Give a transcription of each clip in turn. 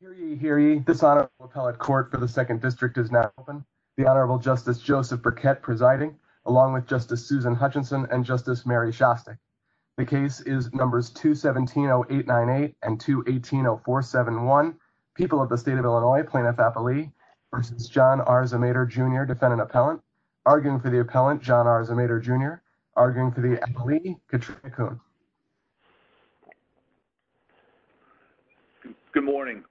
Jr., arguing for the appellant John R. Zemater Jr., arguing for the appellee Katrina Kuhn. Good morning.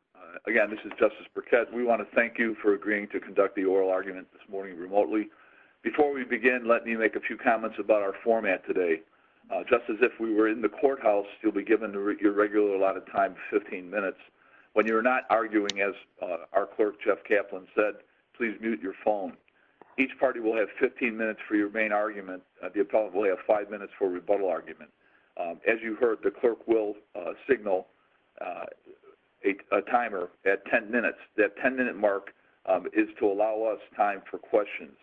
Again, this is Justice Burkett. We want to thank you for agreeing to conduct the oral argument this morning remotely. Before we begin, let me make a few comments about our format today. Just as if we were in the courthouse, you'll be given your regular allotted time of 15 minutes. When you're not arguing, as our clerk Jeff Kaplan said, please mute your phone. Each party will have 15 minutes for your main argument. The appellant will have 5 minutes for a rebuttal argument. As you heard, the clerk will signal a timer at 10 minutes. That 10-minute mark is to allow us time for questions.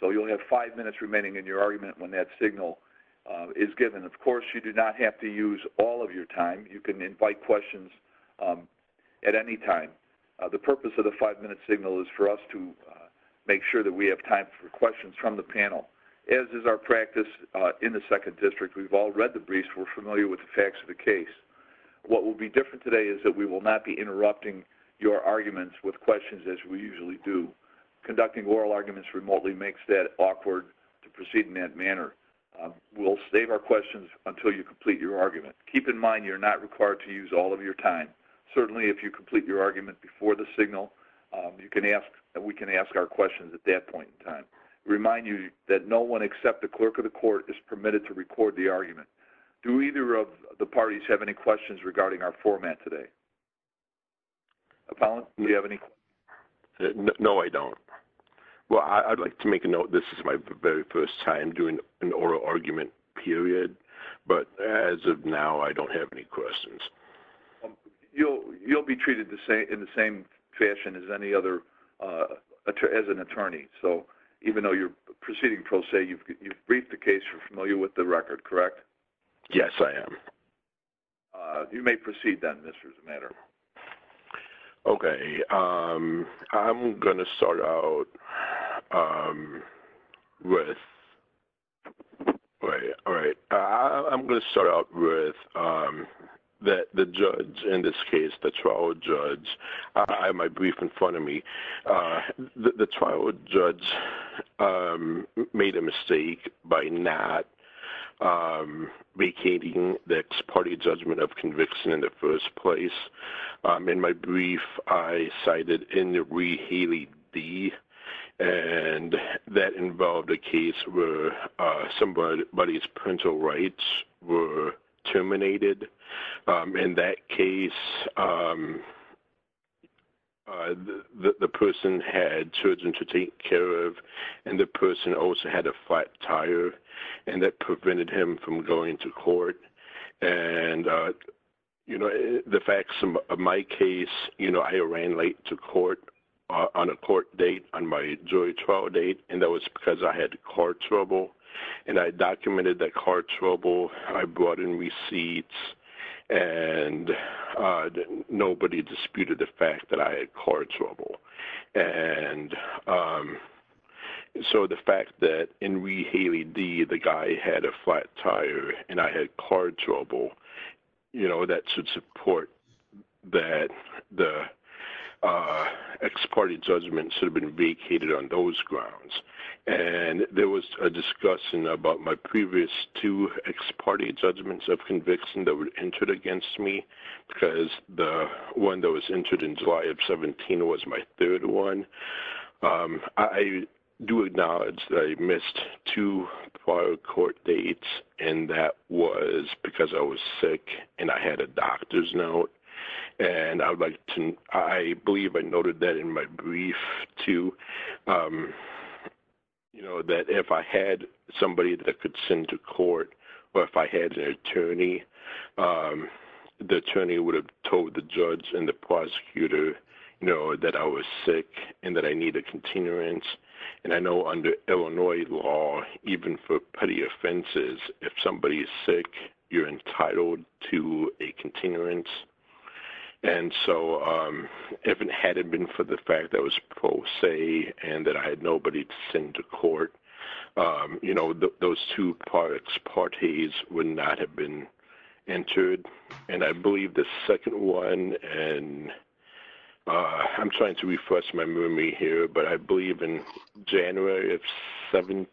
So you'll have 5 minutes remaining in your argument when that signal is given. Of course, you do not have to use all of your time. You can invite questions at any time. The purpose of the 5-minute signal is for us to make sure that we have time for questions from the panel. As is our practice in the Second District, we've all read the briefs. We're familiar with the facts of the case. What will be different today is that we will not be interrupting your arguments with questions as we usually do. Conducting oral arguments remotely makes that awkward to proceed in that manner. We'll save our questions until you complete your argument. Keep in mind you're not required to use all of your time. Certainly if you complete your argument before the signal, we can ask our questions at that point in time. Remind you that no one except the clerk of the court is permitted to record the argument. Do either of the parties have any questions regarding our format today? Appellant, do you have any questions? No, I don't. Well, I'd like to make a note, this is my very first time doing an oral argument period, but as of now, I don't have any questions. You'll be treated in the same fashion as any other, as an attorney. So even though you're proceeding pro se, you've briefed the case, you're familiar with the record, correct? Yes, I am. You may proceed then, Mr. Zimander. Okay, I'm going to start out with the judge, in this case, the trial judge. I have my brief in front of me. The trial judge made a mistake by not vacating the ex parte judgment of conviction in the first place. In my brief, I cited in the re-healing D, and that involved a case where somebody's parental rights were terminated. In that case, the person had children to take care of, and the person also had a flat tire, and that prevented him from going to court. And the facts of my case, I ran late to court on a court date, on my jury trial date, and that was because I had car trouble. And I documented that car trouble, I brought in receipts, and nobody disputed the fact that I had car trouble. And so the fact that in re-healing D, the guy had a flat tire, and I had car trouble, you know, that should support that the ex parte judgment should have been vacated on those grounds. And there was a discussion about my previous two ex parte judgments of conviction that were entered against me, because the one that was entered in July of 17 was my third one. I do acknowledge that I missed two trial court dates, and that was because I was sick and I had a doctor's note. And I believe I noted that in my brief, too, that if I had somebody that I could send to court, or if I had an attorney, the attorney would have told the judge and the prosecutor that I was sick and that I needed a continuance. And I know under Illinois law, even for petty offenses, if somebody is sick, you're entitled to a continuance. And so if it hadn't been for the fact that it was pro se and that I had nobody to send to court, you know, those two ex partes would not have been entered. And I believe the second one, and I'm trying to refresh my memory here, but I believe in January of 17,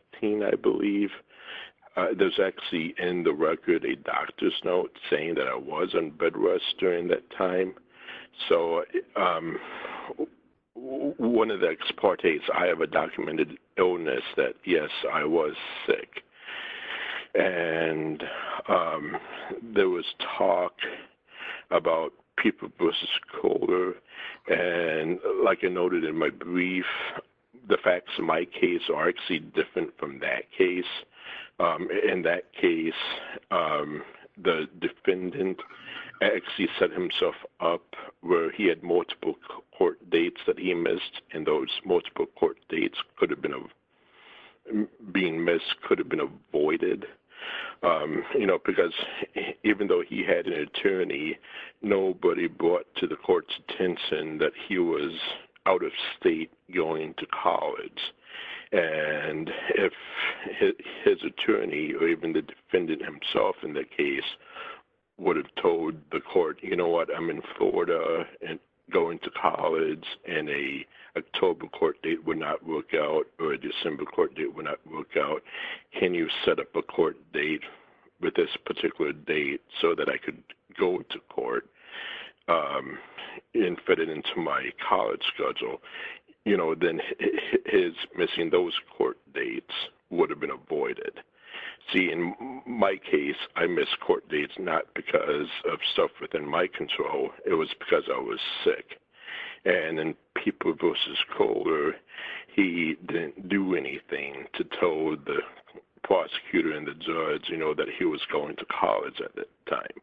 I believe, there's actually in the record a doctor's note saying that I was on bed rest during that time. So one of the ex partes, I have a documented illness that, yes, I was sick. And there was talk about people versus color. And like I noted in my brief, the facts in my case are actually different from that case. In that case, the defendant actually set himself up where he had multiple court dates that he missed, and those multiple court dates being missed could have been avoided. You know, because even though he had an attorney, nobody brought to the court's attention that he was out of state going to college. And if his attorney or even the defendant himself in that case would have told the court, you know what, I'm in Florida and going to college, and a October court date would not work out or a December court date would not work out, can you set up a court date with this particular date so that I could go to court and fit it into my college schedule? You know, then his missing those court dates would have been avoided. See, in my case, I missed court dates not because of stuff within my control. It was because I was sick. And in people versus color, he didn't do anything to tell the prosecutor and the judge, you know, that he was going to college at that time.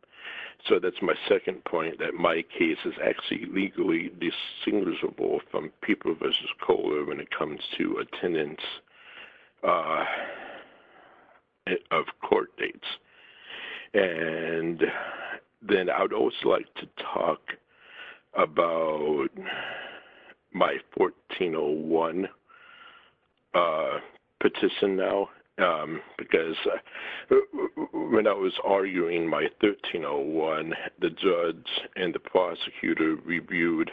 So that's my second point, that my case is actually legally distinguishable from people versus color when it comes to attendance of court dates. And then I'd also like to talk about my 1401 petition now, because when I was arguing my 1301, the judge and the prosecutor reviewed,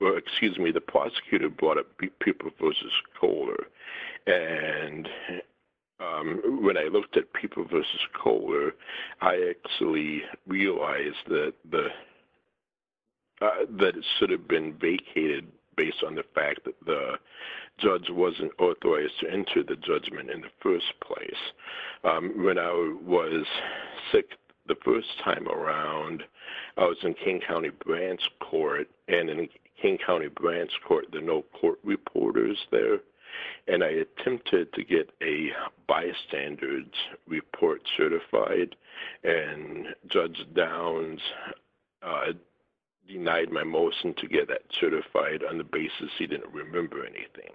or excuse me, the prosecutor brought up people versus color. And when I looked at people versus color, I actually realized that it should have been vacated based on the fact that the judge wasn't authorized to enter the judgment in the first place. When I was sick the first time around, I was in King County Branch Court. And in King County Branch Court, there are no court reporters there. And I attempted to get a bystanders report certified. And Judge Downs denied my motion to get that certified on the basis he didn't remember anything.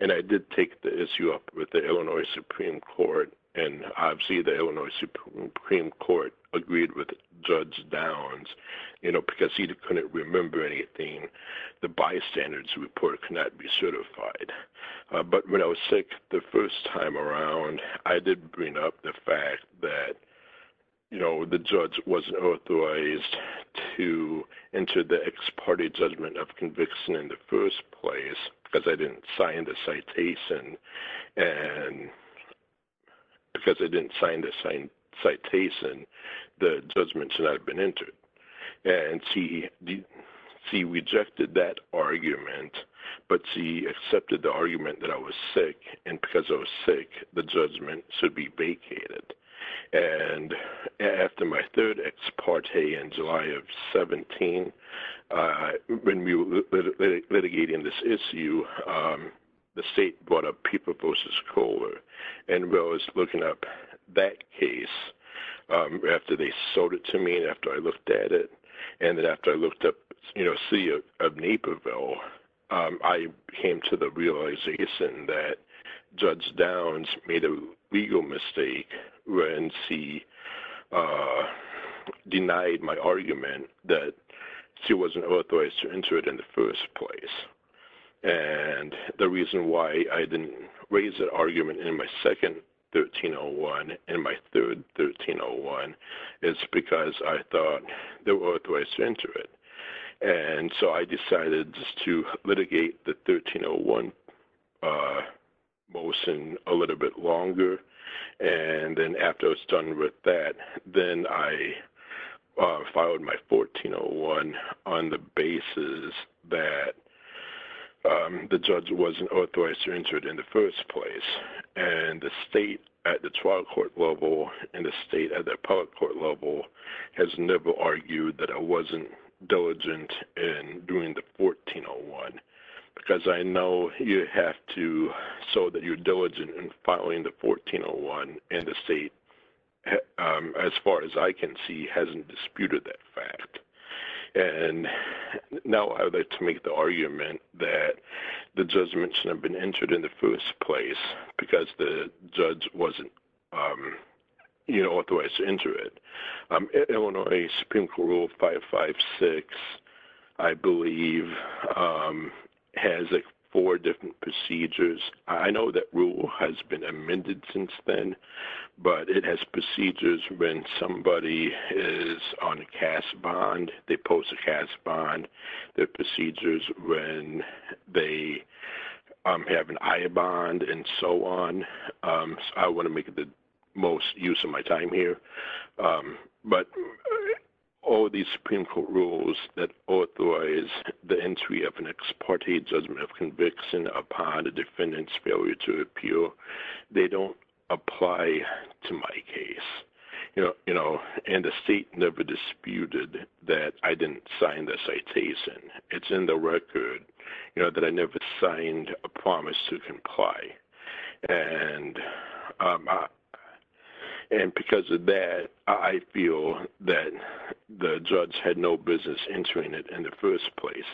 And I did take the issue up with the Illinois Supreme Court. And obviously, the Illinois Supreme Court agreed with Judge Downs, you know, because he couldn't remember anything. The bystanders report could not be certified. But when I was sick the first time around, I did bring up the fact that, you know, the judge wasn't authorized to enter the ex parte judgment of conviction in the first place because I didn't sign the citation. And because I didn't sign the citation, the judgment should not have been entered. And she rejected that argument, but she accepted the argument that I was sick. And because I was sick, the judgment should be vacated. And after my third ex parte in July of 17, when we were litigating this issue, the state brought up People v. Kohler. And I was looking up that case after they sold it to me and after I looked at it. And then after I looked up, you know, City of Naperville, I came to the realization that Judge Downs made a legal mistake when she denied my argument that she wasn't authorized to enter it in the first place. And the reason why I didn't raise that argument in my second 1301 and my third 1301 is because I thought they were authorized to enter it. And so I decided just to litigate the 1301 motion a little bit longer. And then after I was done with that, then I filed my 1401 on the basis that the judge wasn't authorized to enter it in the first place. And the state at the trial court level and the state at the appellate court level has never argued that I wasn't diligent in doing the 1401. Because I know you have to show that you're diligent in filing the 1401 and the state, as far as I can see, hasn't disputed that fact. And now I would like to make the argument that the judge mentioned I've been entered in the first place because the judge wasn't, you know, authorized to enter it. Illinois Supreme Court Rule 556, I believe, has four different procedures. I know that rule has been amended since then, but it has procedures when somebody is on a CAS bond. They post a CAS bond. There are procedures when they have an IA bond and so on. I want to make the most use of my time here. But all these Supreme Court rules that authorize the entry of an ex parte judgment of conviction upon a defendant's failure to appeal, they don't apply to my case. And the state never disputed that I didn't sign the citation. It's in the record that I never signed a promise to comply. And because of that, I feel that the judge had no business entering it in the first place.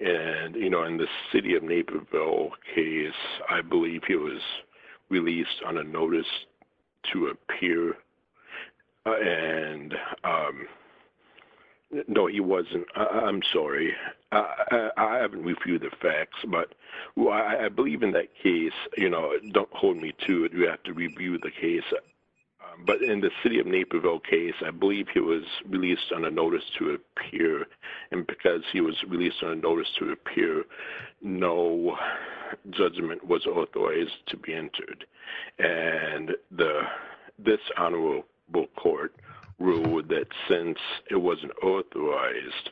And, you know, in the city of Naperville case, I believe he was released on a notice to appear. And no, he wasn't. I'm sorry. I haven't reviewed the facts, but I believe in that case, you know, don't hold me to it. You have to review the case. But in the city of Naperville case, I believe he was released on a notice to appear. And because he was released on a notice to appear, no judgment was authorized to be entered. And this honorable court ruled that since it wasn't authorized,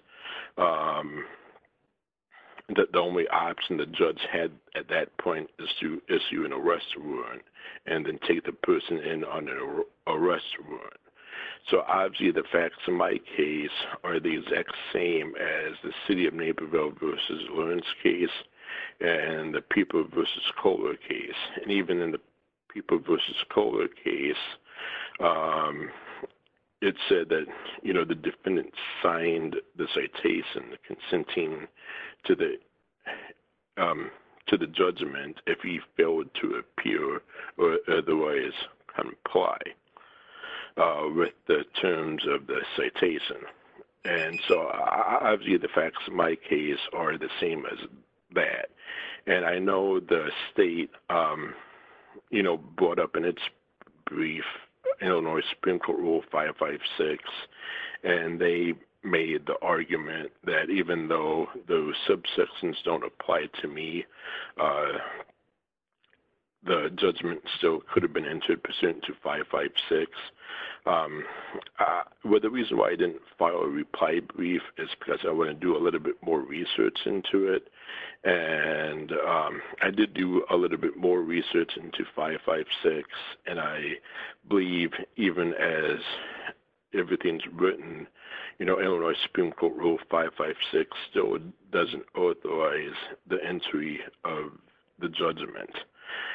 that the only option the judge had at that point is to issue an arrest warrant and then take the person in on an arrest warrant. So, obviously, the facts in my case are the exact same as the city of Naperville versus Lawrence case and the People v. Kohler case. And even in the People v. Kohler case, it said that, you know, the defendant signed the citation consenting to the judgment if he failed to appear or otherwise comply. With the terms of the citation. And so, obviously, the facts in my case are the same as that. And I know the state, you know, brought up in its brief Illinois Supreme Court Rule 556. And they made the argument that even though those subsections don't apply to me, the judgment still could have been entered pursuant to 556. Well, the reason why I didn't file a reply brief is because I want to do a little bit more research into it. And I did do a little bit more research into 556. And I believe even as everything's written, you know, Illinois Supreme Court Rule 556 still doesn't authorize the entry of the judgment.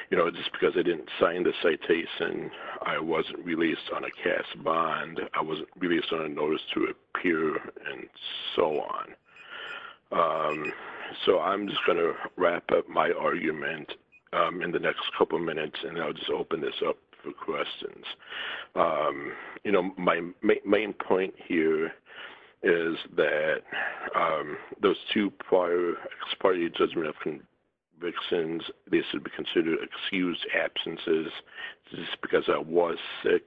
You know, just because I didn't sign the citation, I wasn't released on a cast bond, I wasn't released on a notice to appear, and so on. So, I'm just going to wrap up my argument in the next couple minutes and I'll just open this up for questions. You know, my main point here is that those two prior expiry judgment convictions, these would be considered excused absences just because I was sick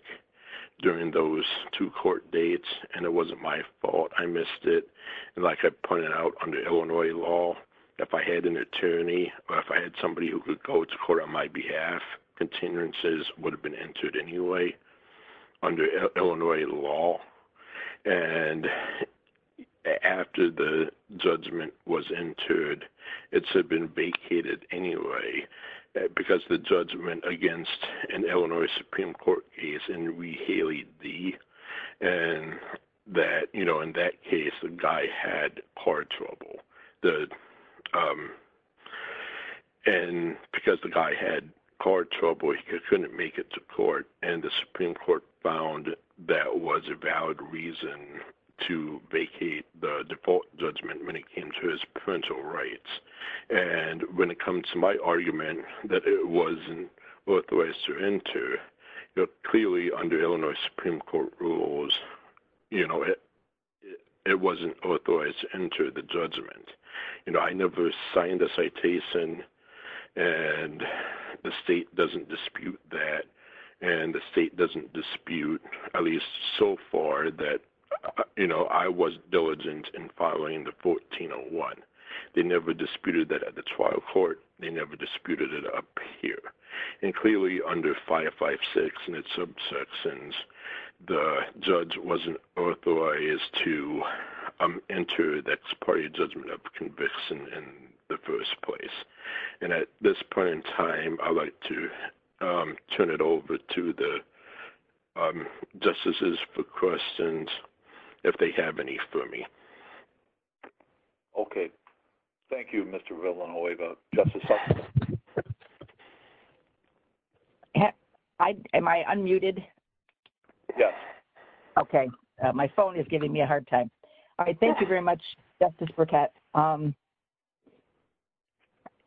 during those two court dates and it wasn't my fault. I missed it. And like I pointed out, under Illinois law, if I had an attorney or if I had somebody who could go to court on my behalf, continuances would have been entered anyway under Illinois law. And after the judgment was entered, it should have been vacated anyway because the judgment against an Illinois Supreme Court case in Rehaley D. And that, you know, in that case, the guy had car trouble. And because the guy had car trouble, he couldn't make it to court, and the Supreme Court found that was a valid reason to vacate the default judgment when it came to his parental rights. And when it comes to my argument that it wasn't authorized to enter, you know, clearly under Illinois Supreme Court rules, you know, it wasn't authorized to enter the judgment. You know, I never signed the citation, and the state doesn't dispute that, and the state doesn't dispute, at least so far, that, you know, I was diligent in filing the 1401. They never disputed that at the trial court. They never disputed it up here. And clearly, under 556 and its subsections, the judge wasn't authorized to enter that party judgment of conviction in the first place. And at this point in time, I'd like to turn it over to the justices for questions, if they have any for me. Okay. Thank you, Mr. Rivlin. I'll wait about just a second. Am I unmuted? Yes. Okay. My phone is giving me a hard time. All right. Thank you very much, Justice Burkett. Mr.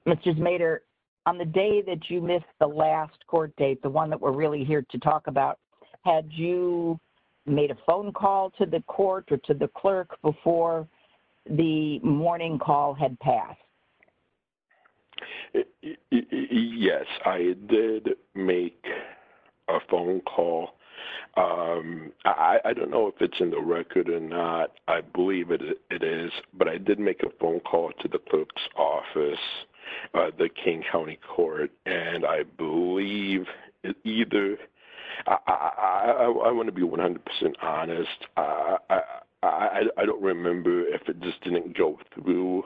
Zmader, on the day that you missed the last court date, the one that we're really here to talk about, had you made a phone call to the court or to the clerk before the morning call had passed? Yes, I did make a phone call. I don't know if it's in the record or not. I believe it is. But I did make a phone call to the clerk's office, the King County Court, and I believe either—I want to be 100% honest. I don't remember if it just didn't go through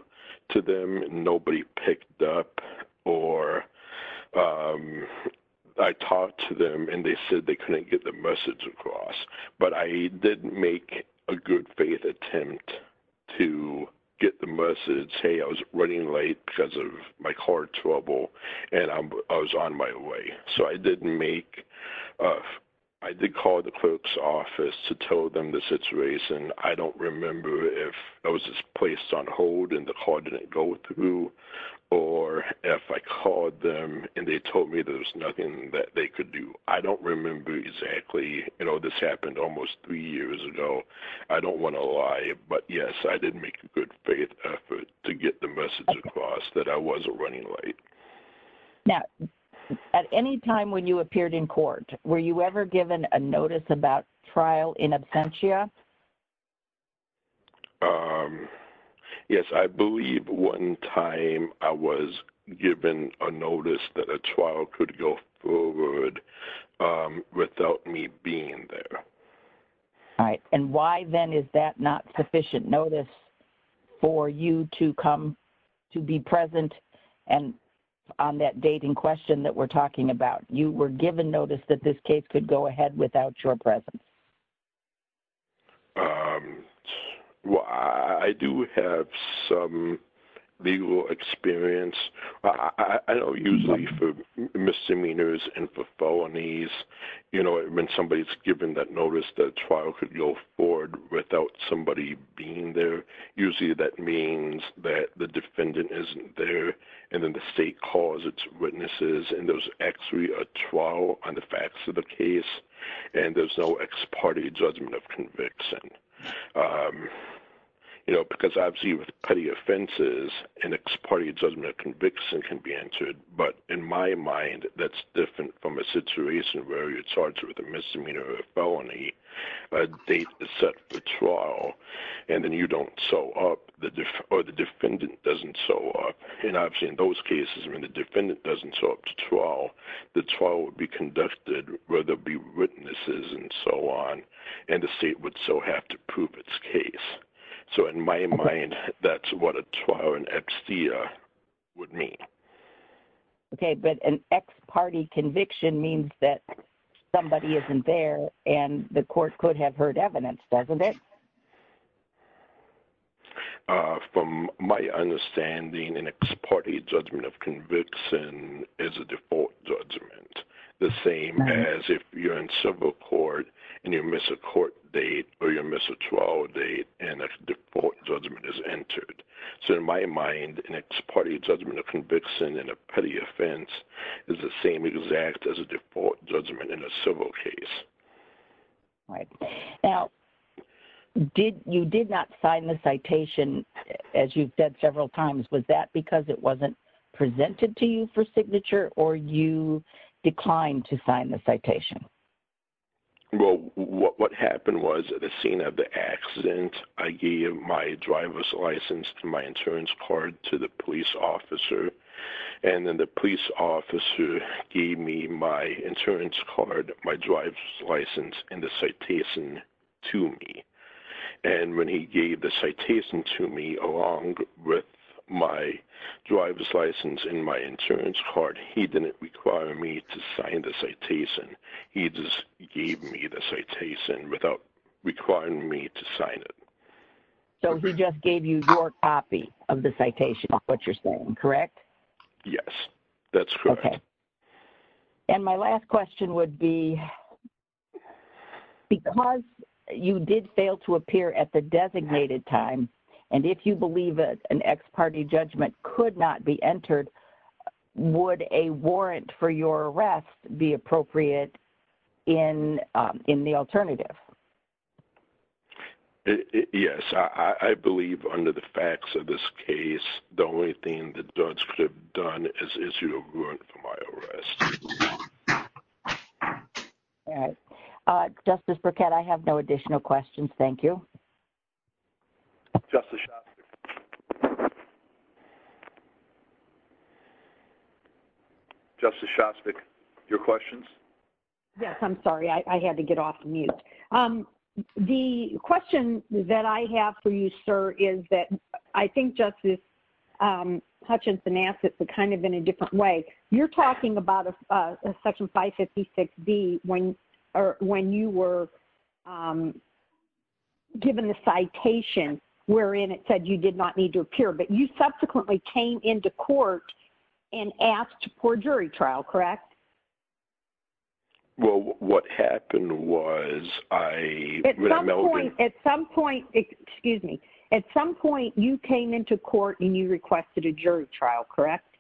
to them and nobody picked up, or I talked to them and they said they couldn't get the message across. But I did make a good faith attempt to get the message, hey, I was running late because of my car trouble, and I was on my way. So I did make—I did call the clerk's office to tell them the situation. I don't remember if I was just placed on hold and the call didn't go through, or if I called them and they told me there was nothing that they could do. I don't remember exactly. You know, this happened almost three years ago. I don't want to lie, but yes, I did make a good faith effort to get the message across that I was a running late. Now, at any time when you appeared in court, were you ever given a notice about trial in absentia? Yes, I believe one time I was given a notice that a trial could go forward without me being there. All right. And why then is that not sufficient notice for you to come to be present on that dating question that we're talking about? You were given notice that this case could go ahead without your presence. Well, I do have some legal experience. I know usually for misdemeanors and for felonies, you know, when somebody's given that notice that a trial could go forward without somebody being there, usually that means that the defendant isn't there, and then the state calls its witnesses, and there's actually a trial on the facts of the case, and there's no ex parte judgment of conviction. You know, because obviously with cutting offenses, an ex parte judgment of conviction can be entered, but in my mind, that's different from a situation where you're charged with a misdemeanor or a felony, a date is set for trial, and then you don't show up, or the defendant doesn't show up. And obviously in those cases, when the defendant doesn't show up to trial, the trial would be conducted where there'd be witnesses and so on, and the state would still have to prove its case. So in my mind, that's what a trial in abseia would mean. Okay, but an ex parte conviction means that somebody isn't there, and the court could have heard evidence, doesn't it? From my understanding, an ex parte judgment of conviction is a default judgment, the same as if you're in civil court, and you miss a court date, or you miss a trial date, and a default judgment is entered. So in my mind, an ex parte judgment of conviction in a petty offense is the same exact as a default judgment in a civil case. Right. Now, you did not sign the citation, as you've said several times. Was that because it wasn't presented to you for signature, or you declined to sign the citation? Well, what happened was, at the scene of the accident, I gave my driver's license and my insurance card to the police officer, and then the police officer gave me my insurance card, my driver's license, and the citation to me. And when he gave the citation to me, along with my driver's license and my insurance card, he didn't require me to sign the citation. He just gave me the citation without requiring me to sign it. So he just gave you your copy of the citation, is what you're saying, correct? Yes, that's correct. And my last question would be, because you did fail to appear at the designated time, and if you believe that an ex parte judgment could not be entered, would a warrant for your arrest be appropriate in the alternative? Yes. I believe, under the facts of this case, the only thing the judge could have done is issue a warrant for my arrest. All right. Justice Burkett, I have no additional questions. Thank you. Justice Shostak. Justice Shostak, your questions? Yes, I'm sorry. I had to get off mute. The question that I have for you, sir, is that I think Justice Hutchinson asked it, but kind of in a different way. You're talking about Section 556B when you were given the citation wherein it said you did not need to appear, but you subsequently came into court and asked for a jury trial, correct? Well, what happened was I... At some point, you came into court and you requested a jury trial, correct?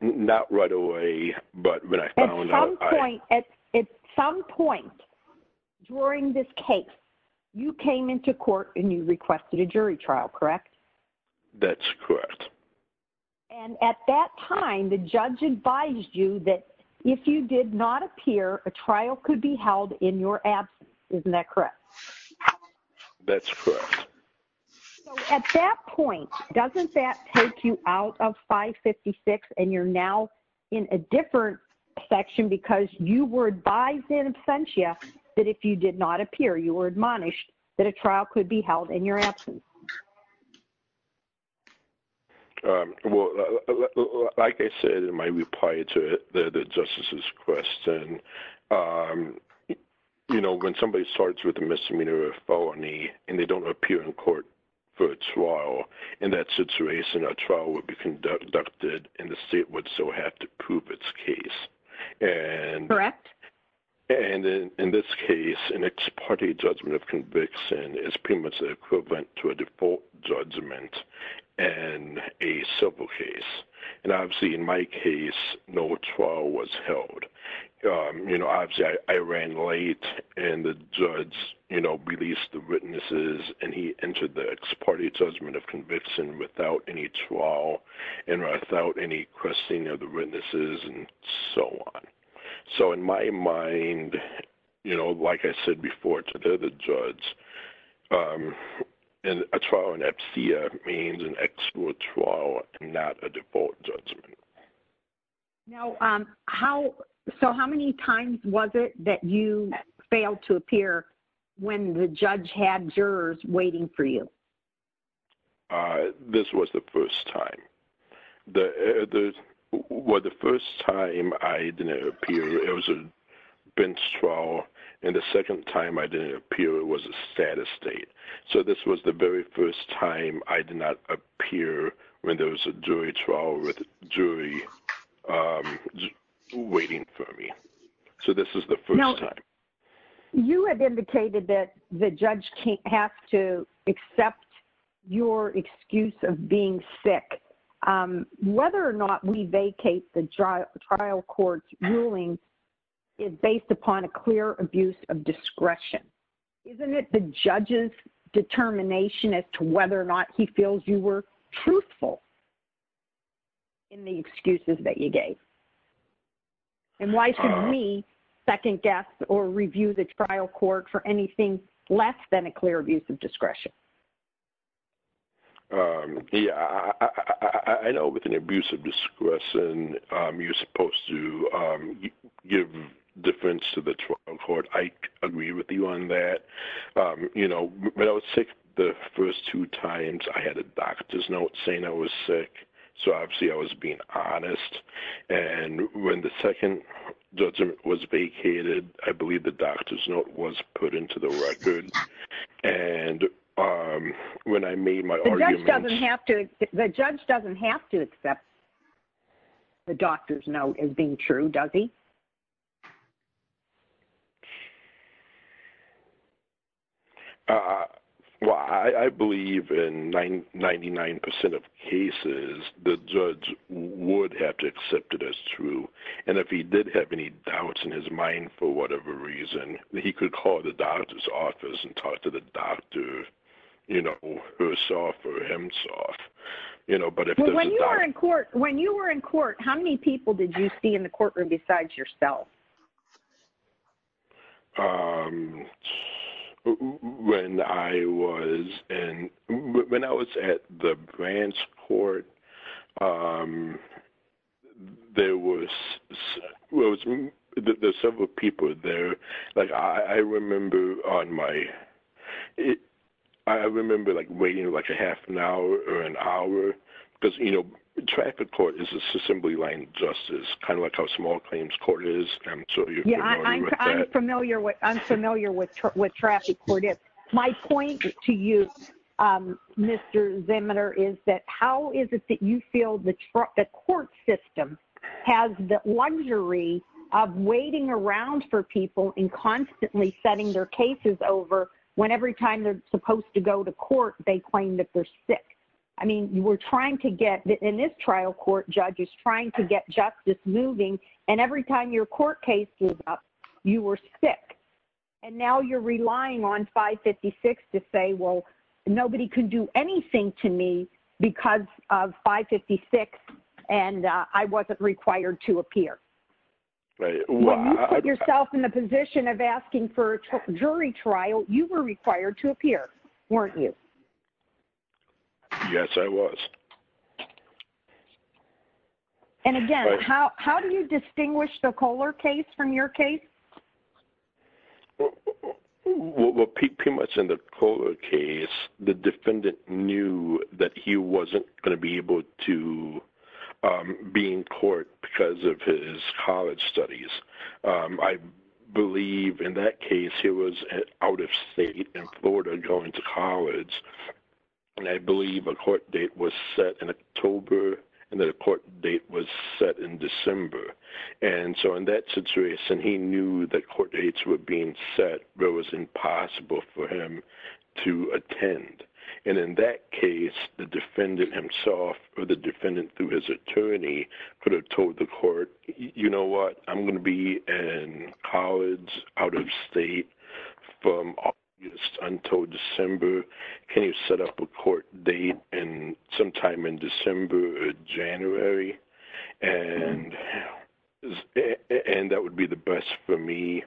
Not right away, but when I found out... At some point during this case, you came into court and you requested a jury trial, correct? That's correct. And at that time, the judge advised you that if you did not appear, a trial could be held in your absence, isn't that correct? That's correct. So at that point, doesn't that take you out of 556 and you're now in a different section because you were advised in absentia that if you did not appear, you were admonished that a trial could be held in your absence? Well, like I said in my reply to the Justice's question, when somebody starts with a misdemeanor or a felony and they don't appear in court for a trial, in that situation, a trial would be conducted and the state would still have to prove its case. Correct. And in this case, an ex parte judgment of conviction is pretty much equivalent to a default judgment. And a civil case. And obviously, in my case, no trial was held. Obviously, I ran late and the judge released the witnesses and he entered the ex parte judgment of conviction without any trial and without any questioning of the witnesses and so on. So in my mind, like I said before to the other judge, a trial in absentia means an actual trial and not a default judgment. Now, so how many times was it that you failed to appear when the judge had jurors waiting for you? This was the first time. Well, the first time I didn't appear, it was a bench trial. And the second time I didn't appear, it was a status state. So this was the very first time I did not appear when there was a jury trial with a jury waiting for me. So this is the first time. You have indicated that the judge has to accept your excuse of being sick. Whether or not we vacate the trial court's ruling is based upon a clear abuse of discretion. Isn't it the judge's determination as to whether or not he feels you were truthful in the excuses that you gave? And why should we second-guess or review the trial court for anything less than a clear abuse of discretion? Yeah, I know with an abuse of discretion, you're supposed to give defense to the trial court. I agree with you on that. When I was sick the first two times, I had a doctor's note saying I was sick. So obviously I was being honest. And when the second judgment was vacated, I believe the doctor's note was put into the record. And when I made my argument... The judge doesn't have to accept the doctor's note as being true, does he? Well, I believe in 99% of cases, the judge would have to accept it as true. And if he did have any doubts in his mind for whatever reason, he could call the doctor's office and talk to the doctor, you know, herself or himself. When you were in court, how many people did you see in the courtroom besides yourself? When I was at the branch court, there were several people there. Like, I remember waiting like a half an hour or an hour because, you know, traffic court is assembly line justice, kind of like how small claims court is. I'm sure you're familiar with that. I'm familiar with what traffic court is. My point to you, Mr. Zemeter, is that how is it that you feel the court system has the luxury of waiting around for people and constantly setting their cases over when every time they're supposed to go to court, they claim that they're sick? I mean, you were trying to get, in this trial court, judges trying to get justice moving, and every time your court case blew up, you were sick. And now you're relying on 556 to say, well, nobody can do anything to me because of 556, and I wasn't required to appear. When you put yourself in the position of asking for a jury trial, you were required to appear, weren't you? Yes, I was. And again, how do you distinguish the Kohler case from your case? Well, pretty much in the Kohler case, the defendant knew that he wasn't going to be able to be in court because of his college studies. I believe in that case, he was out of state in Florida going to college, and I believe a court date was set in October and that a court date was set in December. And so in that situation, he knew that court dates were being set where it was impossible for him to attend. And in that case, the defendant himself or the defendant through his attorney could have told the court, you know what, I'm going to be in college, out of state from August until December. Can you set up a court date sometime in December or January? And that would be the best for me,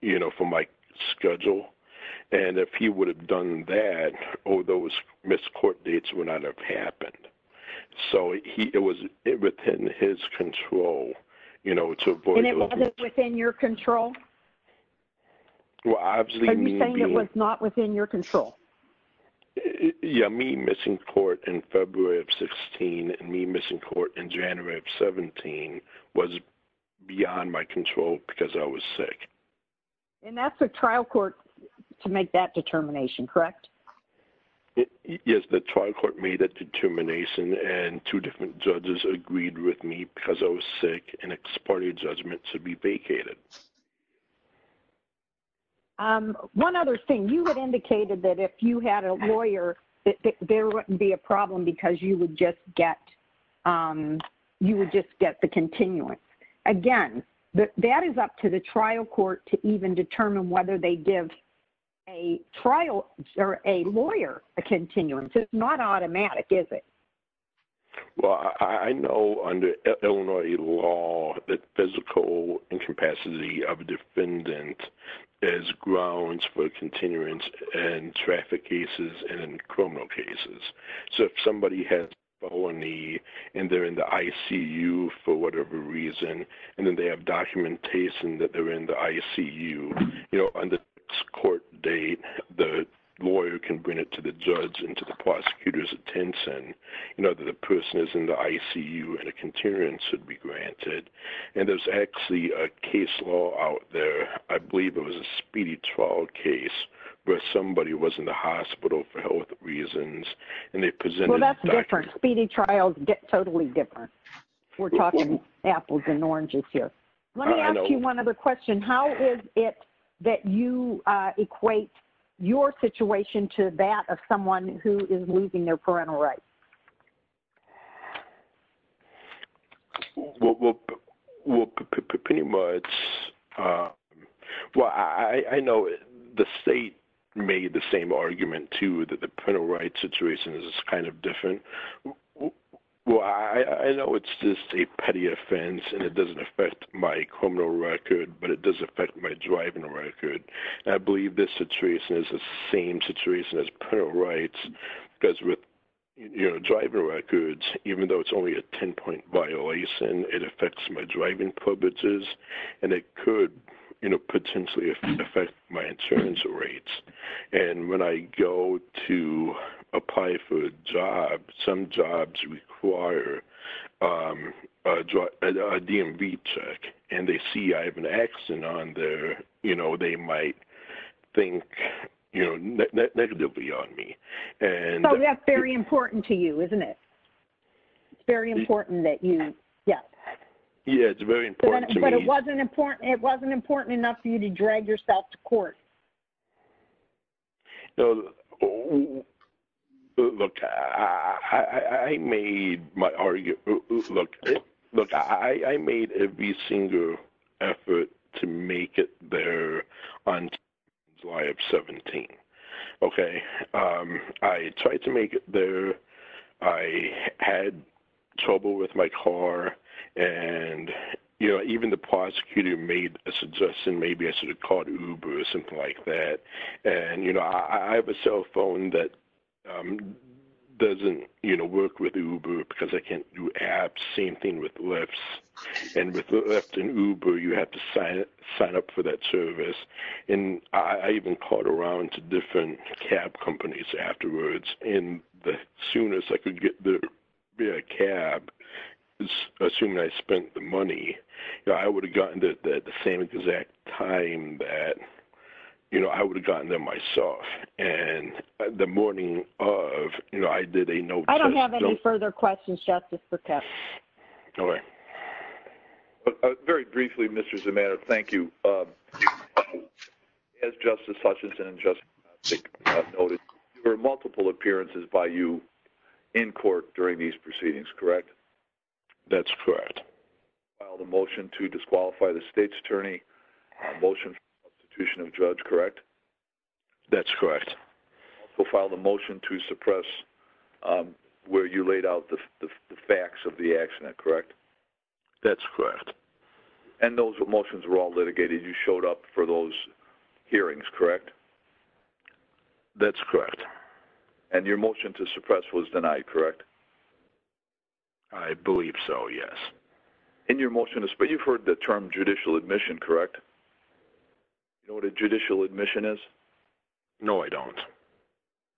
you know, for my schedule. And if he would have done that, all those missed court dates would not have happened. So it was within his control, you know, to avoid... And it wasn't within your control? Are you saying it was not within your control? Yeah, me missing court in February of 16 and me missing court in January of 17 was beyond my control because I was sick. And that's a trial court to make that determination, correct? Yes, the trial court made that determination and two different judges agreed with me because I was sick and exported judgment to be vacated. One other thing, you had indicated that if you had a lawyer, there wouldn't be a problem because you would just get the continuance. Again, that is up to the trial court to even determine whether they give a trial or a lawyer a continuance. It's not automatic, is it? Well, I know under Illinois law, the physical incapacity of a defendant is grounds for continuance in traffic cases and in criminal cases. So if somebody has a felony and they're in the ICU for whatever reason, and then they have documentation that they're in the ICU, you know, on the court date, the lawyer can bring it to the judge and to the prosecutor's attention, you know, that the person is in the ICU and a continuance should be granted. And there's actually a case law out there. I believe it was a speedy trial case where somebody was in the hospital for health reasons and they presented- Well, that's different. Speedy trials get totally different. We're talking apples and oranges here. Let me ask you one other question. How is it that you equate your situation to that of someone who is losing their parental rights? Well, pretty much, well, I know the state made the same argument, too, that the parental rights situation is kind of different. Well, I know it's just a petty offense and it doesn't affect my criminal record, but it does affect my driving record. And I believe this situation is the same situation as parental rights because with, you know, driver records, even though it's only a 10-point violation, it affects my driving privileges and it could, you know, potentially affect my insurance rates. And when I go to apply for a job, some jobs require a DMV check and they see I have an accident on there, you know, they might think, you know, negatively on me. So that's very important to you, isn't it? It's very important that you, yeah. Yeah, it's very important to me. But it wasn't important enough for you to drag yourself to court. You know, look, I made my argument, look, I made every single effort to make it there on July 17th, okay? I tried to make it there. I had trouble with my car. And, you know, even the prosecutor made a suggestion, maybe I should have called Uber or something like that. And, you know, I have a cell phone that doesn't, you know, work with Uber because I can't do apps, same thing with Lyfts. And with Lyft and Uber, you have to sign up for that service. And I even called around to different cab companies afterwards. And the soonest I could get the cab, assuming I spent the money, you know, I would have gotten there at the same exact time that, you know, I would have gotten there myself. And the morning of, you know, I did a no-test. I don't have any further questions, Justice, for Kepp. All right. Very briefly, Mr. Zeman, thank you. As Justice Hutchinson and Justice Zink have noted, there were multiple appearances by you in court during these proceedings, correct? That's correct. You filed a motion to disqualify the state's attorney, a motion for substitution of judge, correct? That's correct. You filed a motion to suppress where you laid out the facts of the accident, correct? That's correct. And those motions were all litigated. You showed up for those hearings, correct? That's correct. And your motion to suppress was denied, correct? I believe so, yes. But you've heard the term judicial admission, correct? Do you know what a judicial admission is? No, I don't.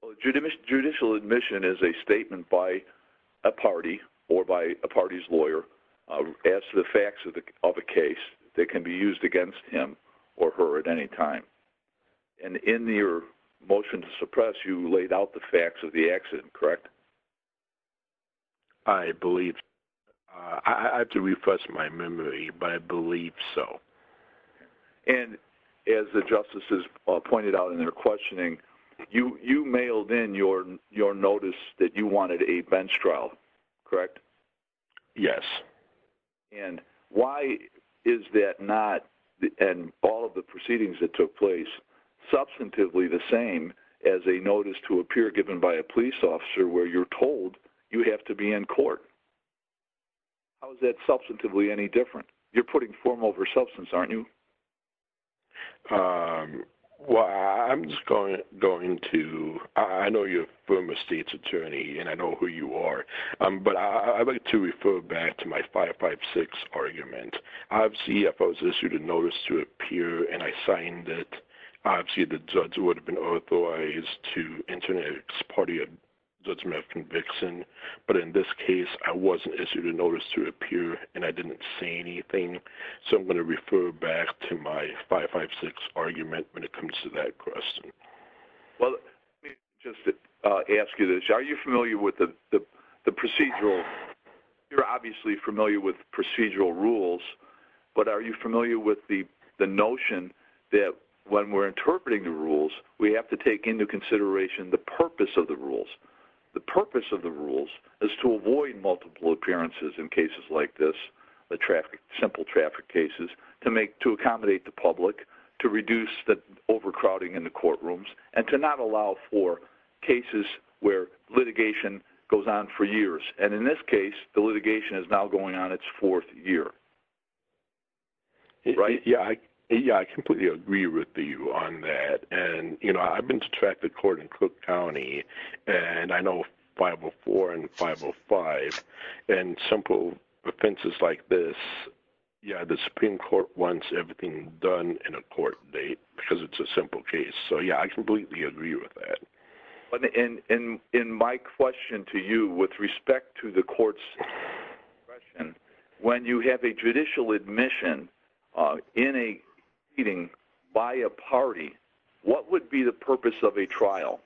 Well, a judicial admission is a statement by a party or by a party's lawyer as to the facts of a case that can be used against him or her at any time. And in your motion to suppress, you laid out the facts of the accident, correct? I believe so. I have to refresh my memory, but I believe so. And as the justices pointed out in their questioning, you mailed in your notice that you wanted a bench trial, correct? Yes. And why is that not, in all of the proceedings that took place, substantively the same as a notice to appear given by a police officer where you're told you have to be in court? How is that substantively any different? You're putting form over substance, aren't you? Well, I'm just going to – I know you're a former state's attorney, and I know who you are. But I'd like to refer back to my 556 argument. Obviously, if I was issued a notice to appear and I signed it, obviously the judge would have been authorized to enter it as part of your judgment of conviction. But in this case, I wasn't issued a notice to appear, and I didn't say anything. So I'm going to refer back to my 556 argument when it comes to that question. Well, let me just ask you this. Are you familiar with the procedural – you're obviously familiar with procedural rules. But are you familiar with the notion that when we're interpreting the rules, we have to take into consideration the purpose of the rules? The purpose of the rules is to avoid multiple appearances in cases like this, simple traffic cases, to accommodate the public, to reduce the overcrowding in the courtrooms, and to not allow for cases where litigation goes on for years. And in this case, the litigation is now going on its fourth year, right? Yeah, I completely agree with you on that. And, you know, I've been to traffic court in Cook County, and I know 504 and 505 and simple offenses like this. Yeah, the Supreme Court wants everything done in a court date because it's a simple case. So, yeah, I completely agree with that. In my question to you with respect to the court's question, when you have a judicial admission in a meeting by a party, what would be the purpose of a trial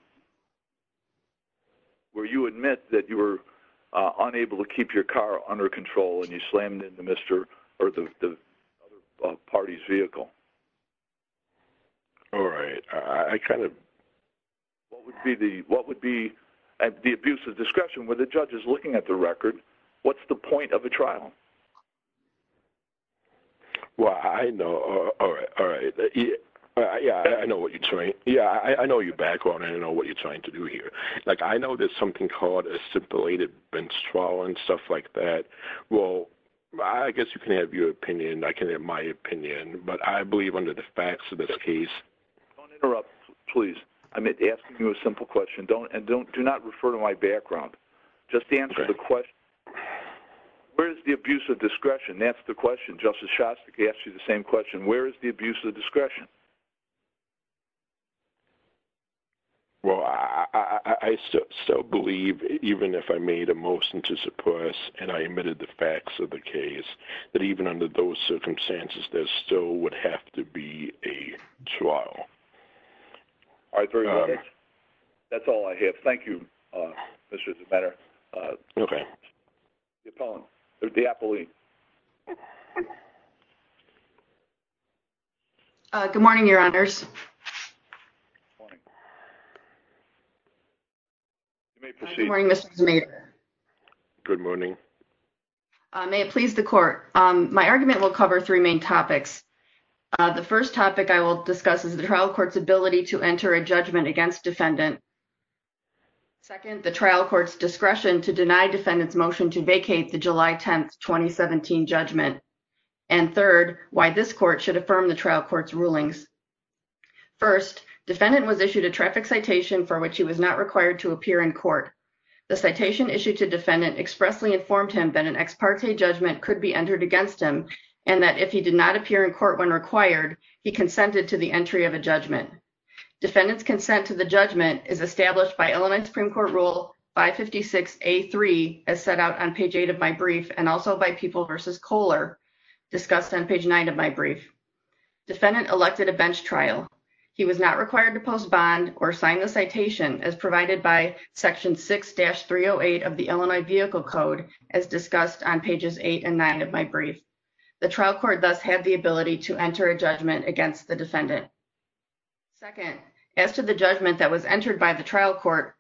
where you admit that you were unable to keep your car under control and you slammed into the other party's vehicle? All right, I kind of... What would be the abuse of discretion where the judge is looking at the record? What's the point of a trial? Well, I know. All right, all right. Yeah, I know what you're trying. Yeah, I know your background, and I know what you're trying to do here. Like, I know there's something called a simulated bench trial and stuff like that. Well, I guess you can have your opinion. I can have my opinion. But I believe under the facts of this case... Don't interrupt, please. I'm asking you a simple question. And do not refer to my background. Just answer the question. Where is the abuse of discretion? That's the question. Justice Shostak asked you the same question. Where is the abuse of discretion? Well, I still believe, even if I made a motion to suppress and I admitted the facts of the case, that even under those circumstances, there still would have to be a trial. All right. That's all I have. Thank you, Mr. DeMetter. Okay. The appellant, the appellee. Good morning, Your Honors. Good morning. You may proceed. Good morning, Mr. DeMetter. Good morning. May it please the Court. My argument will cover three main topics. The first topic I will discuss is the trial court's ability to enter a judgment against defendant. Second, the trial court's discretion to deny defendant's motion to vacate the July 10, 2017 trial. And third, why this court should affirm the trial court's rulings. First, defendant was issued a traffic citation for which he was not required to appear in court. The citation issued to defendant expressly informed him that an ex parte judgment could be entered against him and that if he did not appear in court when required, he consented to the entry of a judgment. Defendant's consent to the judgment is established by Illinois Supreme Court Rule 556A3, as set out on page 8 of my brief, and also by People v. Kohler, discussed on page 9 of my brief. Defendant elected a bench trial. He was not required to post bond or sign the citation as provided by Section 6-308 of the Illinois Vehicle Code, as discussed on pages 8 and 9 of my brief. The trial court thus had the ability to enter a judgment against the defendant. Second, as to the judgment that was entered by the trial court,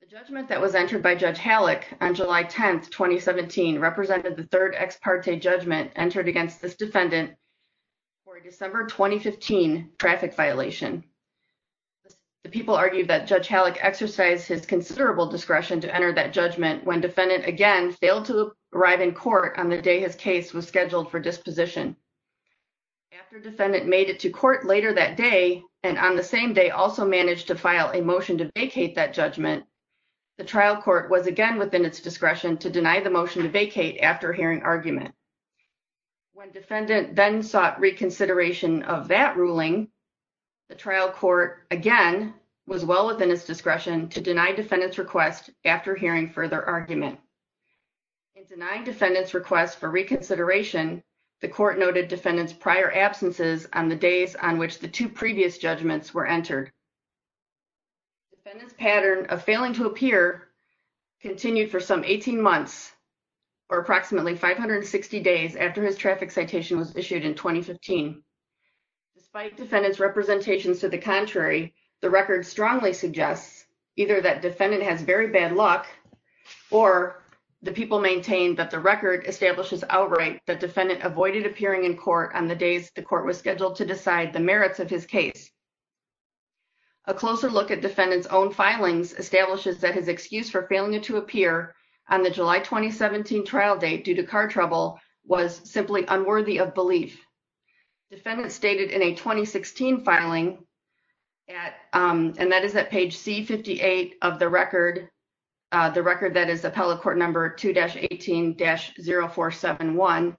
the judgment that was entered by Judge Halleck on July 10, 2017, represented the third ex parte judgment entered against this defendant for a December 2015 traffic violation. The people argued that Judge Halleck exercised his considerable discretion to enter that judgment when defendant, again, failed to arrive in court on the day his case was scheduled for disposition. After defendant made it to court later that day and on the same day also managed to file a motion to vacate that judgment, the trial court was again within its discretion to deny the motion to vacate after hearing argument. When defendant then sought reconsideration of that ruling, the trial court, again, was well within its discretion to deny defendant's request after hearing further argument. In denying defendant's request for reconsideration, the court noted defendant's prior absences on the days on which the two previous judgments were entered. Defendant's pattern of failing to appear continued for some 18 months, or approximately 560 days after his traffic citation was issued in 2015. Despite defendant's representations to the contrary, the record strongly suggests either that defendant has very bad luck or the people maintain that the record establishes outright that defendant avoided appearing in court on the days the court was scheduled to decide the merits of his case. A closer look at defendant's own filings establishes that his excuse for failing to appear on the July 2017 trial date due to car trouble was simply unworthy of belief. Defendant stated in a 2016 filing, and that is at page C58 of the record, the record that is appellate court number 2-18-0471.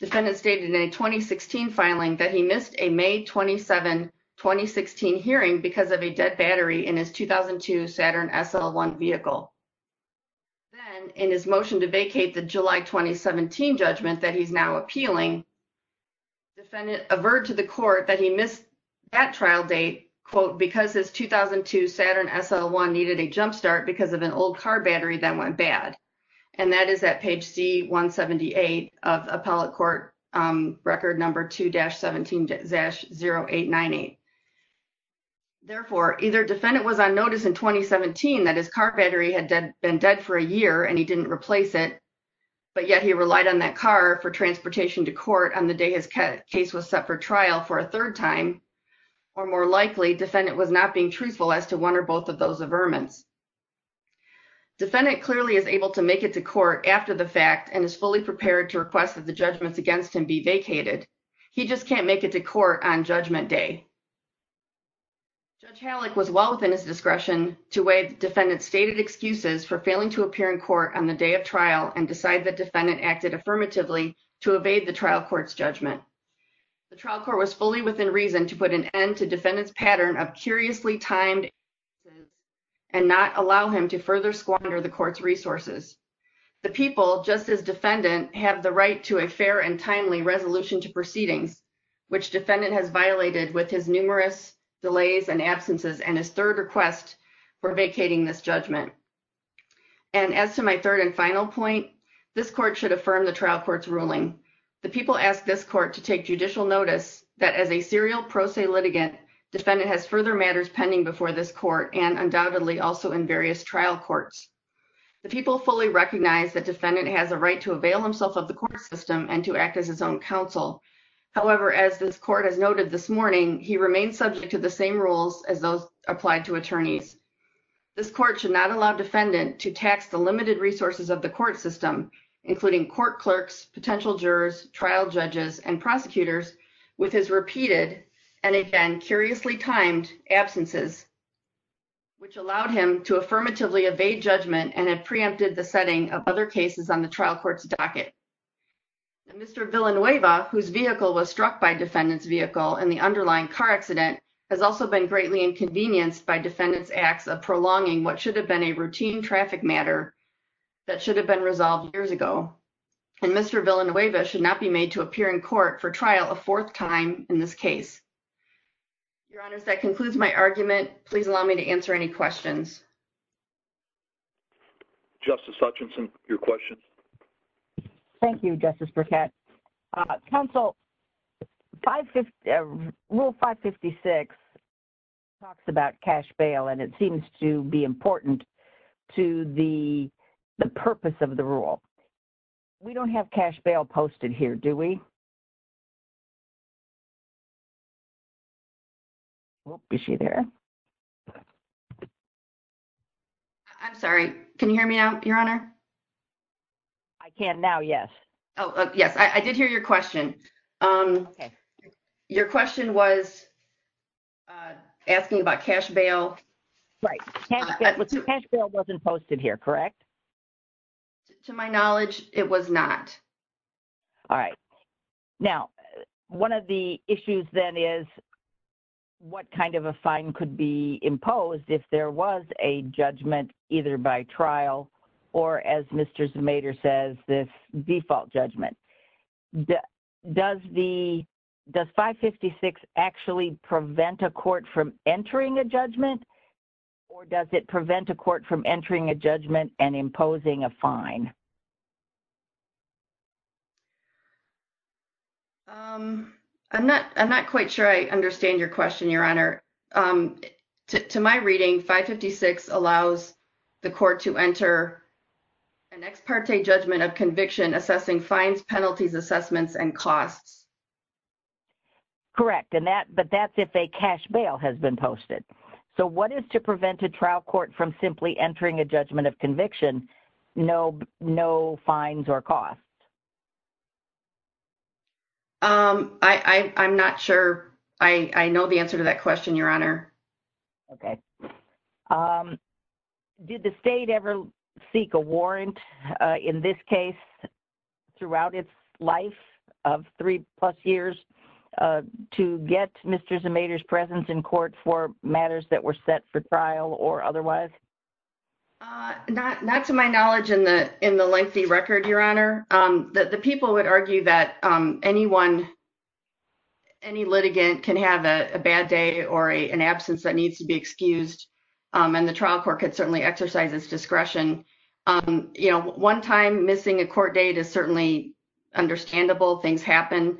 Defendant stated in a 2016 filing that he missed a May 27, 2016 hearing because of a dead battery in his 2002 Saturn SL1 vehicle. Then, in his motion to vacate the July 2017 judgment that he's now appealing, defendant averred to the court that he missed that trial date, quote, because his 2002 Saturn SL1 needed a jump start because of an old car battery that went bad. And that is at page C178 of appellate court record number 2-17-0898. Therefore, either defendant was on notice in 2017 that his car battery had been dead for a year and he didn't replace it, but yet he relied on that car for transportation to court on the day his case was set for trial for a third time, or more likely, defendant was not being truthful as to one or both of those averments. Defendant clearly is able to make it to court after the fact and is fully prepared to request that the judgments against him be vacated. He just can't make it to court on judgment day. Judge Hallick was well within his discretion to waive defendant's stated excuses for failing to appear in court on the day of trial and decide that defendant acted affirmatively to evade the trial court's judgment. The trial court was fully within reason to put an end to defendant's pattern of curiously timed instances and not allow him to further squander the court's resources. The people, just as defendant, have the right to a fair and timely resolution to proceedings, which defendant has violated with his numerous delays and absences and his third request for vacating this judgment. And as to my third and final point, this court should affirm the trial court's ruling. The people ask this court to take judicial notice that as a serial pro se litigant, defendant has further matters pending before this court and undoubtedly also in various trial courts. The people fully recognize that defendant has a right to avail himself of the court system and to act as his own counsel. However, as this court has noted this morning, he remains subject to the same rules as those applied to attorneys. This court should not allow defendant to tax the limited resources of the court system, including court clerks, potential jurors, trial judges and prosecutors, with his repeated and again curiously timed absences, which allowed him to affirmatively evade judgment and it preempted the setting of other cases on the trial court's docket. Mr. Villanueva, whose vehicle was struck by defendant's vehicle in the underlying car accident, has also been greatly inconvenienced by defendant's acts of prolonging what should have been a routine traffic matter that should have been resolved years ago. And Mr. Villanueva should not be made to appear in court for trial a fourth time in this case. Your Honor, that concludes my argument. Please allow me to answer any questions. Justice Hutchinson, your question. Thank you, Justice Burkett. Counsel, Rule 556 talks about cash bail and it seems to be important to the purpose of the rule. We don't have cash bail posted here, do we? Is she there? I'm sorry. Can you hear me now, Your Honor? I can now, yes. Yes, I did hear your question. Your question was asking about cash bail. Right. Cash bail wasn't posted here, correct? To my knowledge, it was not. All right. Now, one of the issues then is what kind of a fine could be imposed if there was a judgment either by trial or, as Mr. Zemeder says, this default judgment. Does 556 actually prevent a court from entering a judgment or does it prevent a court from entering a judgment and imposing a fine? I'm not quite sure I understand your question, Your Honor. To my reading, 556 allows the court to enter an ex parte judgment of conviction assessing fines, penalties, assessments, and costs. Correct. But that's if a cash bail has been posted. So what is to prevent a trial court from simply entering a judgment of conviction, no fines or costs? I'm not sure I know the answer to that question, Your Honor. Okay. Did the state ever seek a warrant in this case throughout its life of three plus years to get Mr. Zemeder's presence in court for matters that were set for trial or otherwise? Not to my knowledge in the lengthy record, Your Honor. The people would argue that anyone, any litigant can have a bad day or an absence that needs to be excused. And the trial court could certainly exercise its discretion. You know, one time missing a court date is certainly understandable. Things happen.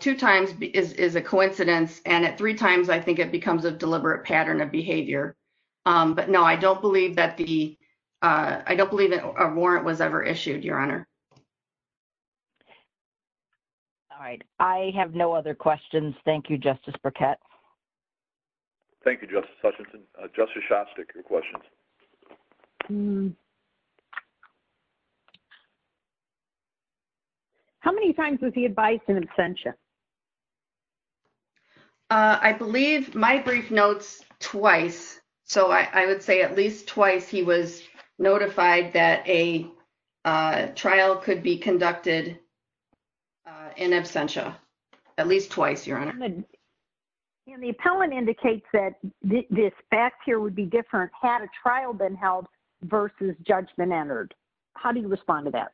Two times is a coincidence. And at three times, I think it becomes a deliberate pattern of behavior. But no, I don't believe that the, I don't believe that a warrant was ever issued, Your Honor. All right. I have no other questions. Thank you, Justice Burkett. Thank you, Justice Hutchinson. Justice Shostak, your questions. How many times was he advised in absentia? I believe my brief notes, twice. So I would say at least twice he was notified that a trial could be conducted in absentia. At least twice, Your Honor. And the appellant indicates that this fact here would be different had a trial been held versus judgment entered. How do you respond to that?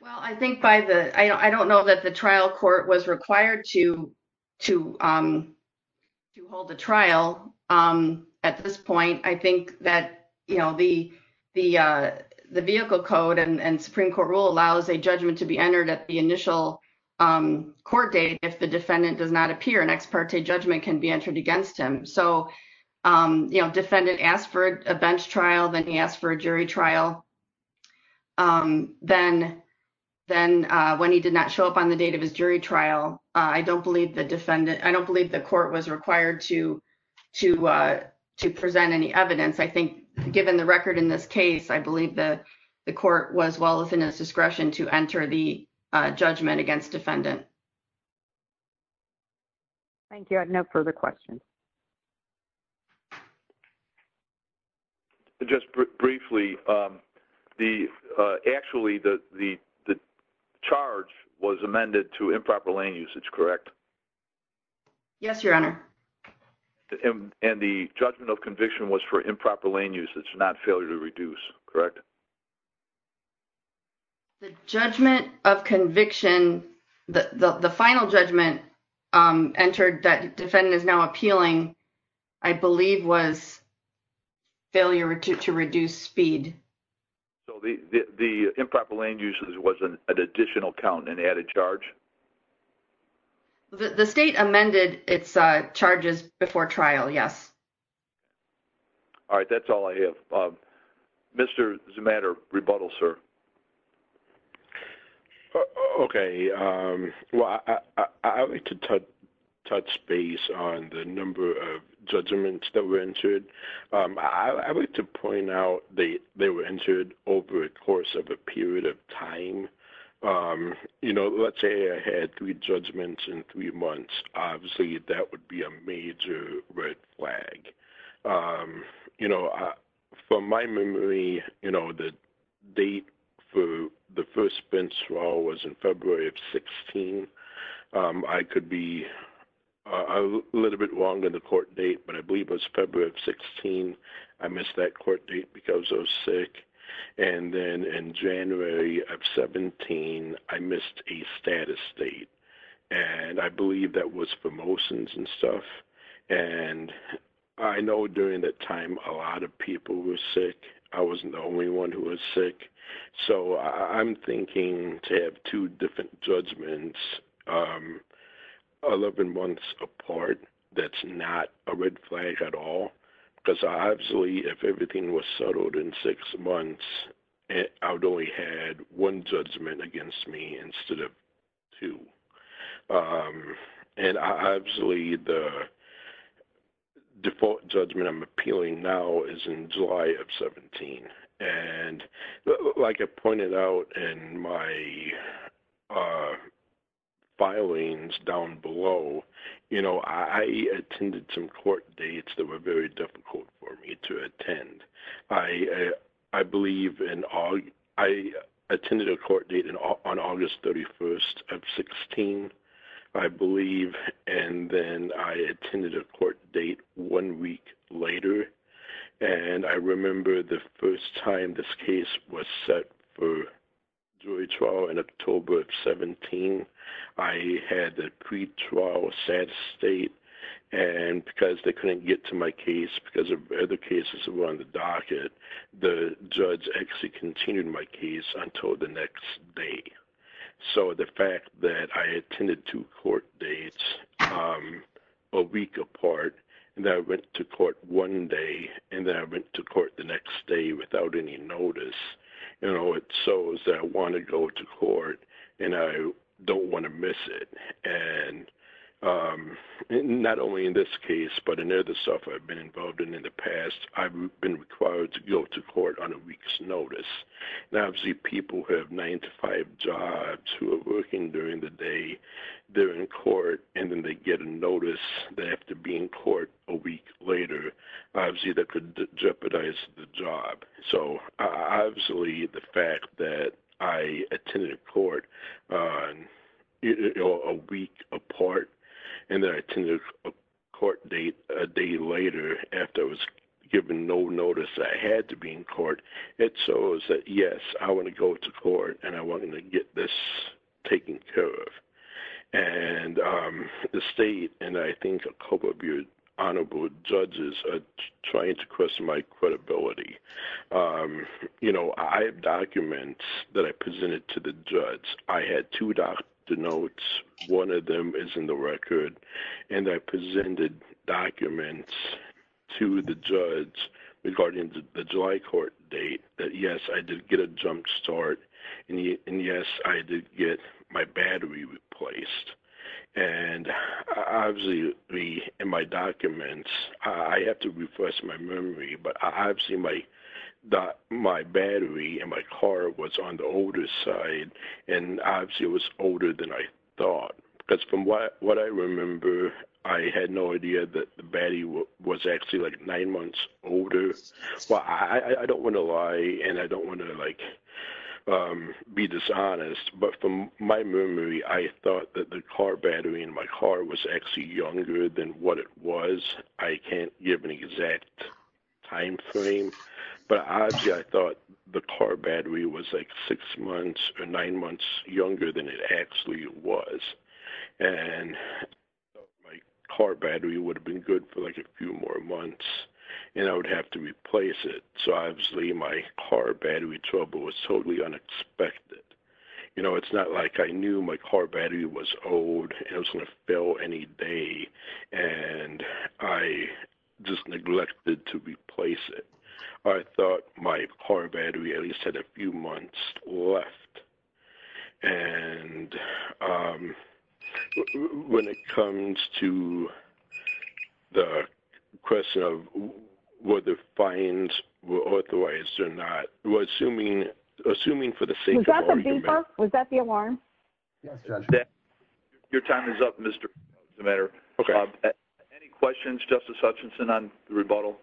Well, I think by the, I don't know that the trial court was required to hold a trial at this point. I think that, you know, the vehicle code and Supreme Court rule allows a judgment to be entered at the initial court date. If the defendant does not appear, an ex parte judgment can be entered against him. So, you know, defendant asked for a bench trial, then he asked for a jury trial. Then when he did not show up on the date of his jury trial, I don't believe the defendant, I don't believe the court was required to present any evidence. I think given the record in this case, I believe that the court was well within its discretion to enter the judgment against defendant. Thank you. I have no further questions. Just briefly, actually the charge was amended to improper lane usage, correct? Yes, Your Honor. And the judgment of conviction was for improper lane usage, not failure to reduce, correct? The judgment of conviction, the final judgment entered that defendant is now appealing, I believe was failure to reduce speed. So the improper lane usage was an additional count and added charge? The state amended its charges before trial, yes. All right, that's all I have. Mr. Zimatter, rebuttal, sir. Okay. Well, I would like to touch base on the number of judgments that were entered. I would like to point out they were entered over a course of a period of time. You know, let's say I had three judgments in three months. Obviously, that would be a major red flag. You know, from my memory, you know, the date for the first bench for all was in February of 16. I could be a little bit longer the court date, but I believe it was February of 16. I missed that court date because I was sick. And then in January of 17, I missed a status date. And I believe that was for motions and stuff. And I know during that time, a lot of people were sick. I wasn't the only one who was sick. So I'm thinking to have two different judgments, 11 months apart, that's not a red flag at all. Because obviously, if everything was settled in six months, I would only have one judgment against me instead of two. And obviously, the default judgment I'm appealing now is in July of 17. And like I pointed out in my filings down below, you know, I attended some court dates that were very difficult for me to attend. I attended a court date on August 31 of 16, I believe. And then I attended a court date one week later. And I remember the first time this case was set for jury trial in October of 17. I had a pretrial status date. And because they couldn't get to my case because of other cases that were on the docket, the judge actually continued my case until the next day. So the fact that I attended two court dates a week apart, and then I went to court one day, and then I went to court the next day without any notice, you know, it shows that I want to go to court, and I don't want to miss it. And not only in this case, but in other stuff I've been involved in in the past, I've been required to go to court on a week's notice. And obviously people who have nine to five jobs who are working during the day, they're in court, and then they get a notice that they have to be in court a week later. Obviously that could jeopardize the job. So obviously the fact that I attended court a week apart, and then I attended a court date a day later after I was given no notice that I had to be in court, it shows that yes, I want to go to court, and I want to get this taken care of. And the state and I think a couple of your honorable judges are trying to question my credibility. You know, I have documents that I presented to the judge. I had two doctor notes. One of them is in the record, and I presented documents to the judge regarding the July court date that yes, I did get a jump start. And yes, I did get my battery replaced. And obviously in my documents, I have to refresh my memory, but obviously my battery in my car was on the older side, and obviously it was older than I thought. Because from what I remember, I had no idea that the battery was actually like nine months older. Well, I don't want to lie, and I don't want to be dishonest, but from my memory, I thought that the car battery in my car was actually younger than what it was. I can't give an exact timeframe, but obviously I thought the car battery was like six months or nine months younger than it actually was. And I thought my car battery would have been good for like a few more months, and I would have to replace it. So obviously my car battery trouble was totally unexpected. You know, it's not like I knew my car battery was old and it was going to fail any day, and I just neglected to replace it. I thought my car battery at least had a few months left. And when it comes to the question of whether fines were authorized or not, we're assuming for the sake of... Was that the beeper? Was that the alarm? Yes, Judge. Your time is up, Mr. DeMetta. Okay. Any questions, Justice Hutchinson, on the rebuttal?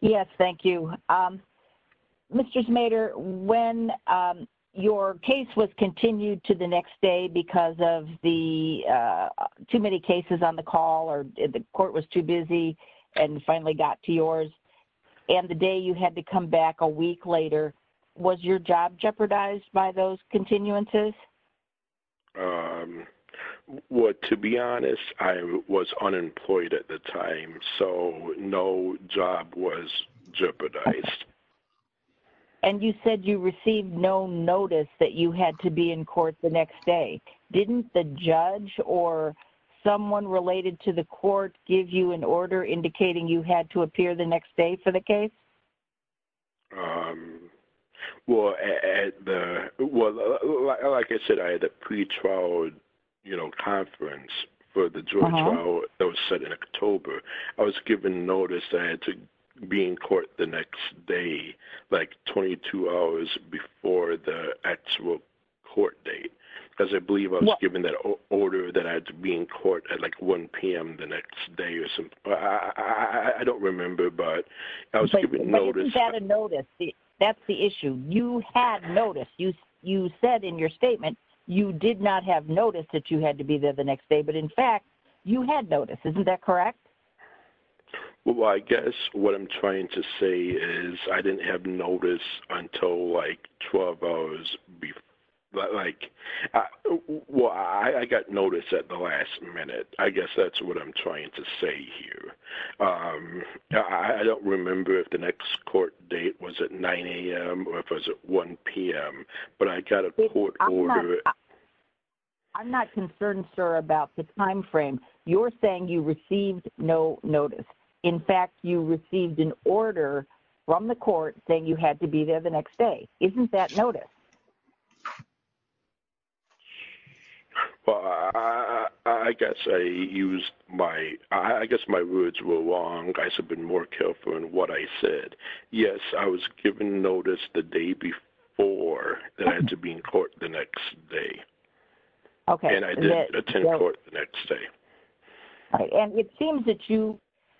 Yes, thank you. Mr. Smader, when your case was continued to the next day because of the too many cases on the call or the court was too busy and finally got to yours, and the day you had to come back a week later, was your job jeopardized by those continuances? Well, to be honest, I was unemployed at the time, so no job was jeopardized. And you said you received no notice that you had to be in court the next day. Didn't the judge or someone related to the court give you an order indicating you had to appear the next day for the case? Well, like I said, I had a pretrial conference for the joint trial that was set in October. I was given notice that I had to be in court the next day, like 22 hours before the actual court date. Because I believe I was given that order that I had to be in court at like 1 p.m. the next day or something. I don't remember, but I was given notice. But isn't that a notice? That's the issue. You had notice. You said in your statement you did not have notice that you had to be there the next day, but in fact, you had notice. Isn't that correct? Well, I guess what I'm trying to say is I didn't have notice until like 12 hours before. Well, I got notice at the last minute. I guess that's what I'm trying to say here. I don't remember if the next court date was at 9 a.m. or if it was at 1 p.m., but I got a court order. I'm not concerned, sir, about the time frame. You're saying you received no notice. In fact, you received an order from the court saying you had to be there the next day. Isn't that notice? Well, I guess my words were wrong. I should have been more careful in what I said. Yes, I was given notice the day before that I had to be in court the next day. And I didn't attend court the next day. And it seems that you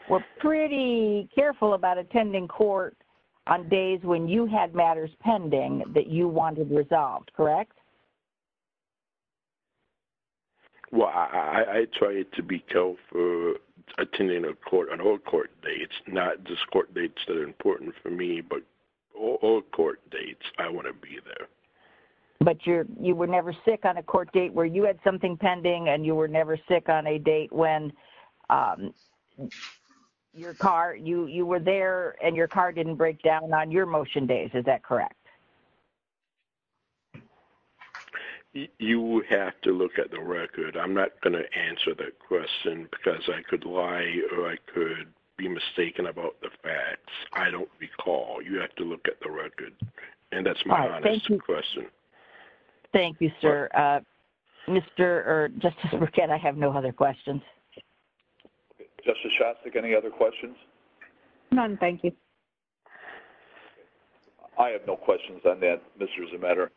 were pretty careful about attending court on days when you had matters pending that you wanted resolved, correct? Well, I try to be careful attending court on all court dates, not just court dates that are important for me, but all court dates I want to be there. But you were never sick on a court date where you had something pending and you were never sick on a date when you were there and your car didn't break down on your motion days. Is that correct? You would have to look at the record. I'm not going to answer that question because I could lie or I could be mistaken about the facts. I don't recall. You have to look at the record. And that's my honest question. Thank you, sir. Mr. or Justice Burkett, I have no other questions. Justice Shostak, any other questions? None, thank you. I have no questions on that, Mr. Zemeder.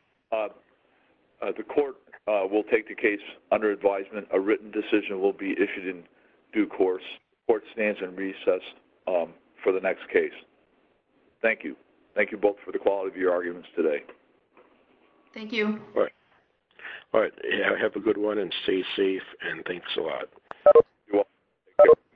The court will take the case under advisement. A written decision will be issued in due course. The court stands in recess for the next case. Thank you. Thank you both for the quality of your arguments today. Thank you. All right. Have a good one and stay safe and thanks a lot. You're welcome.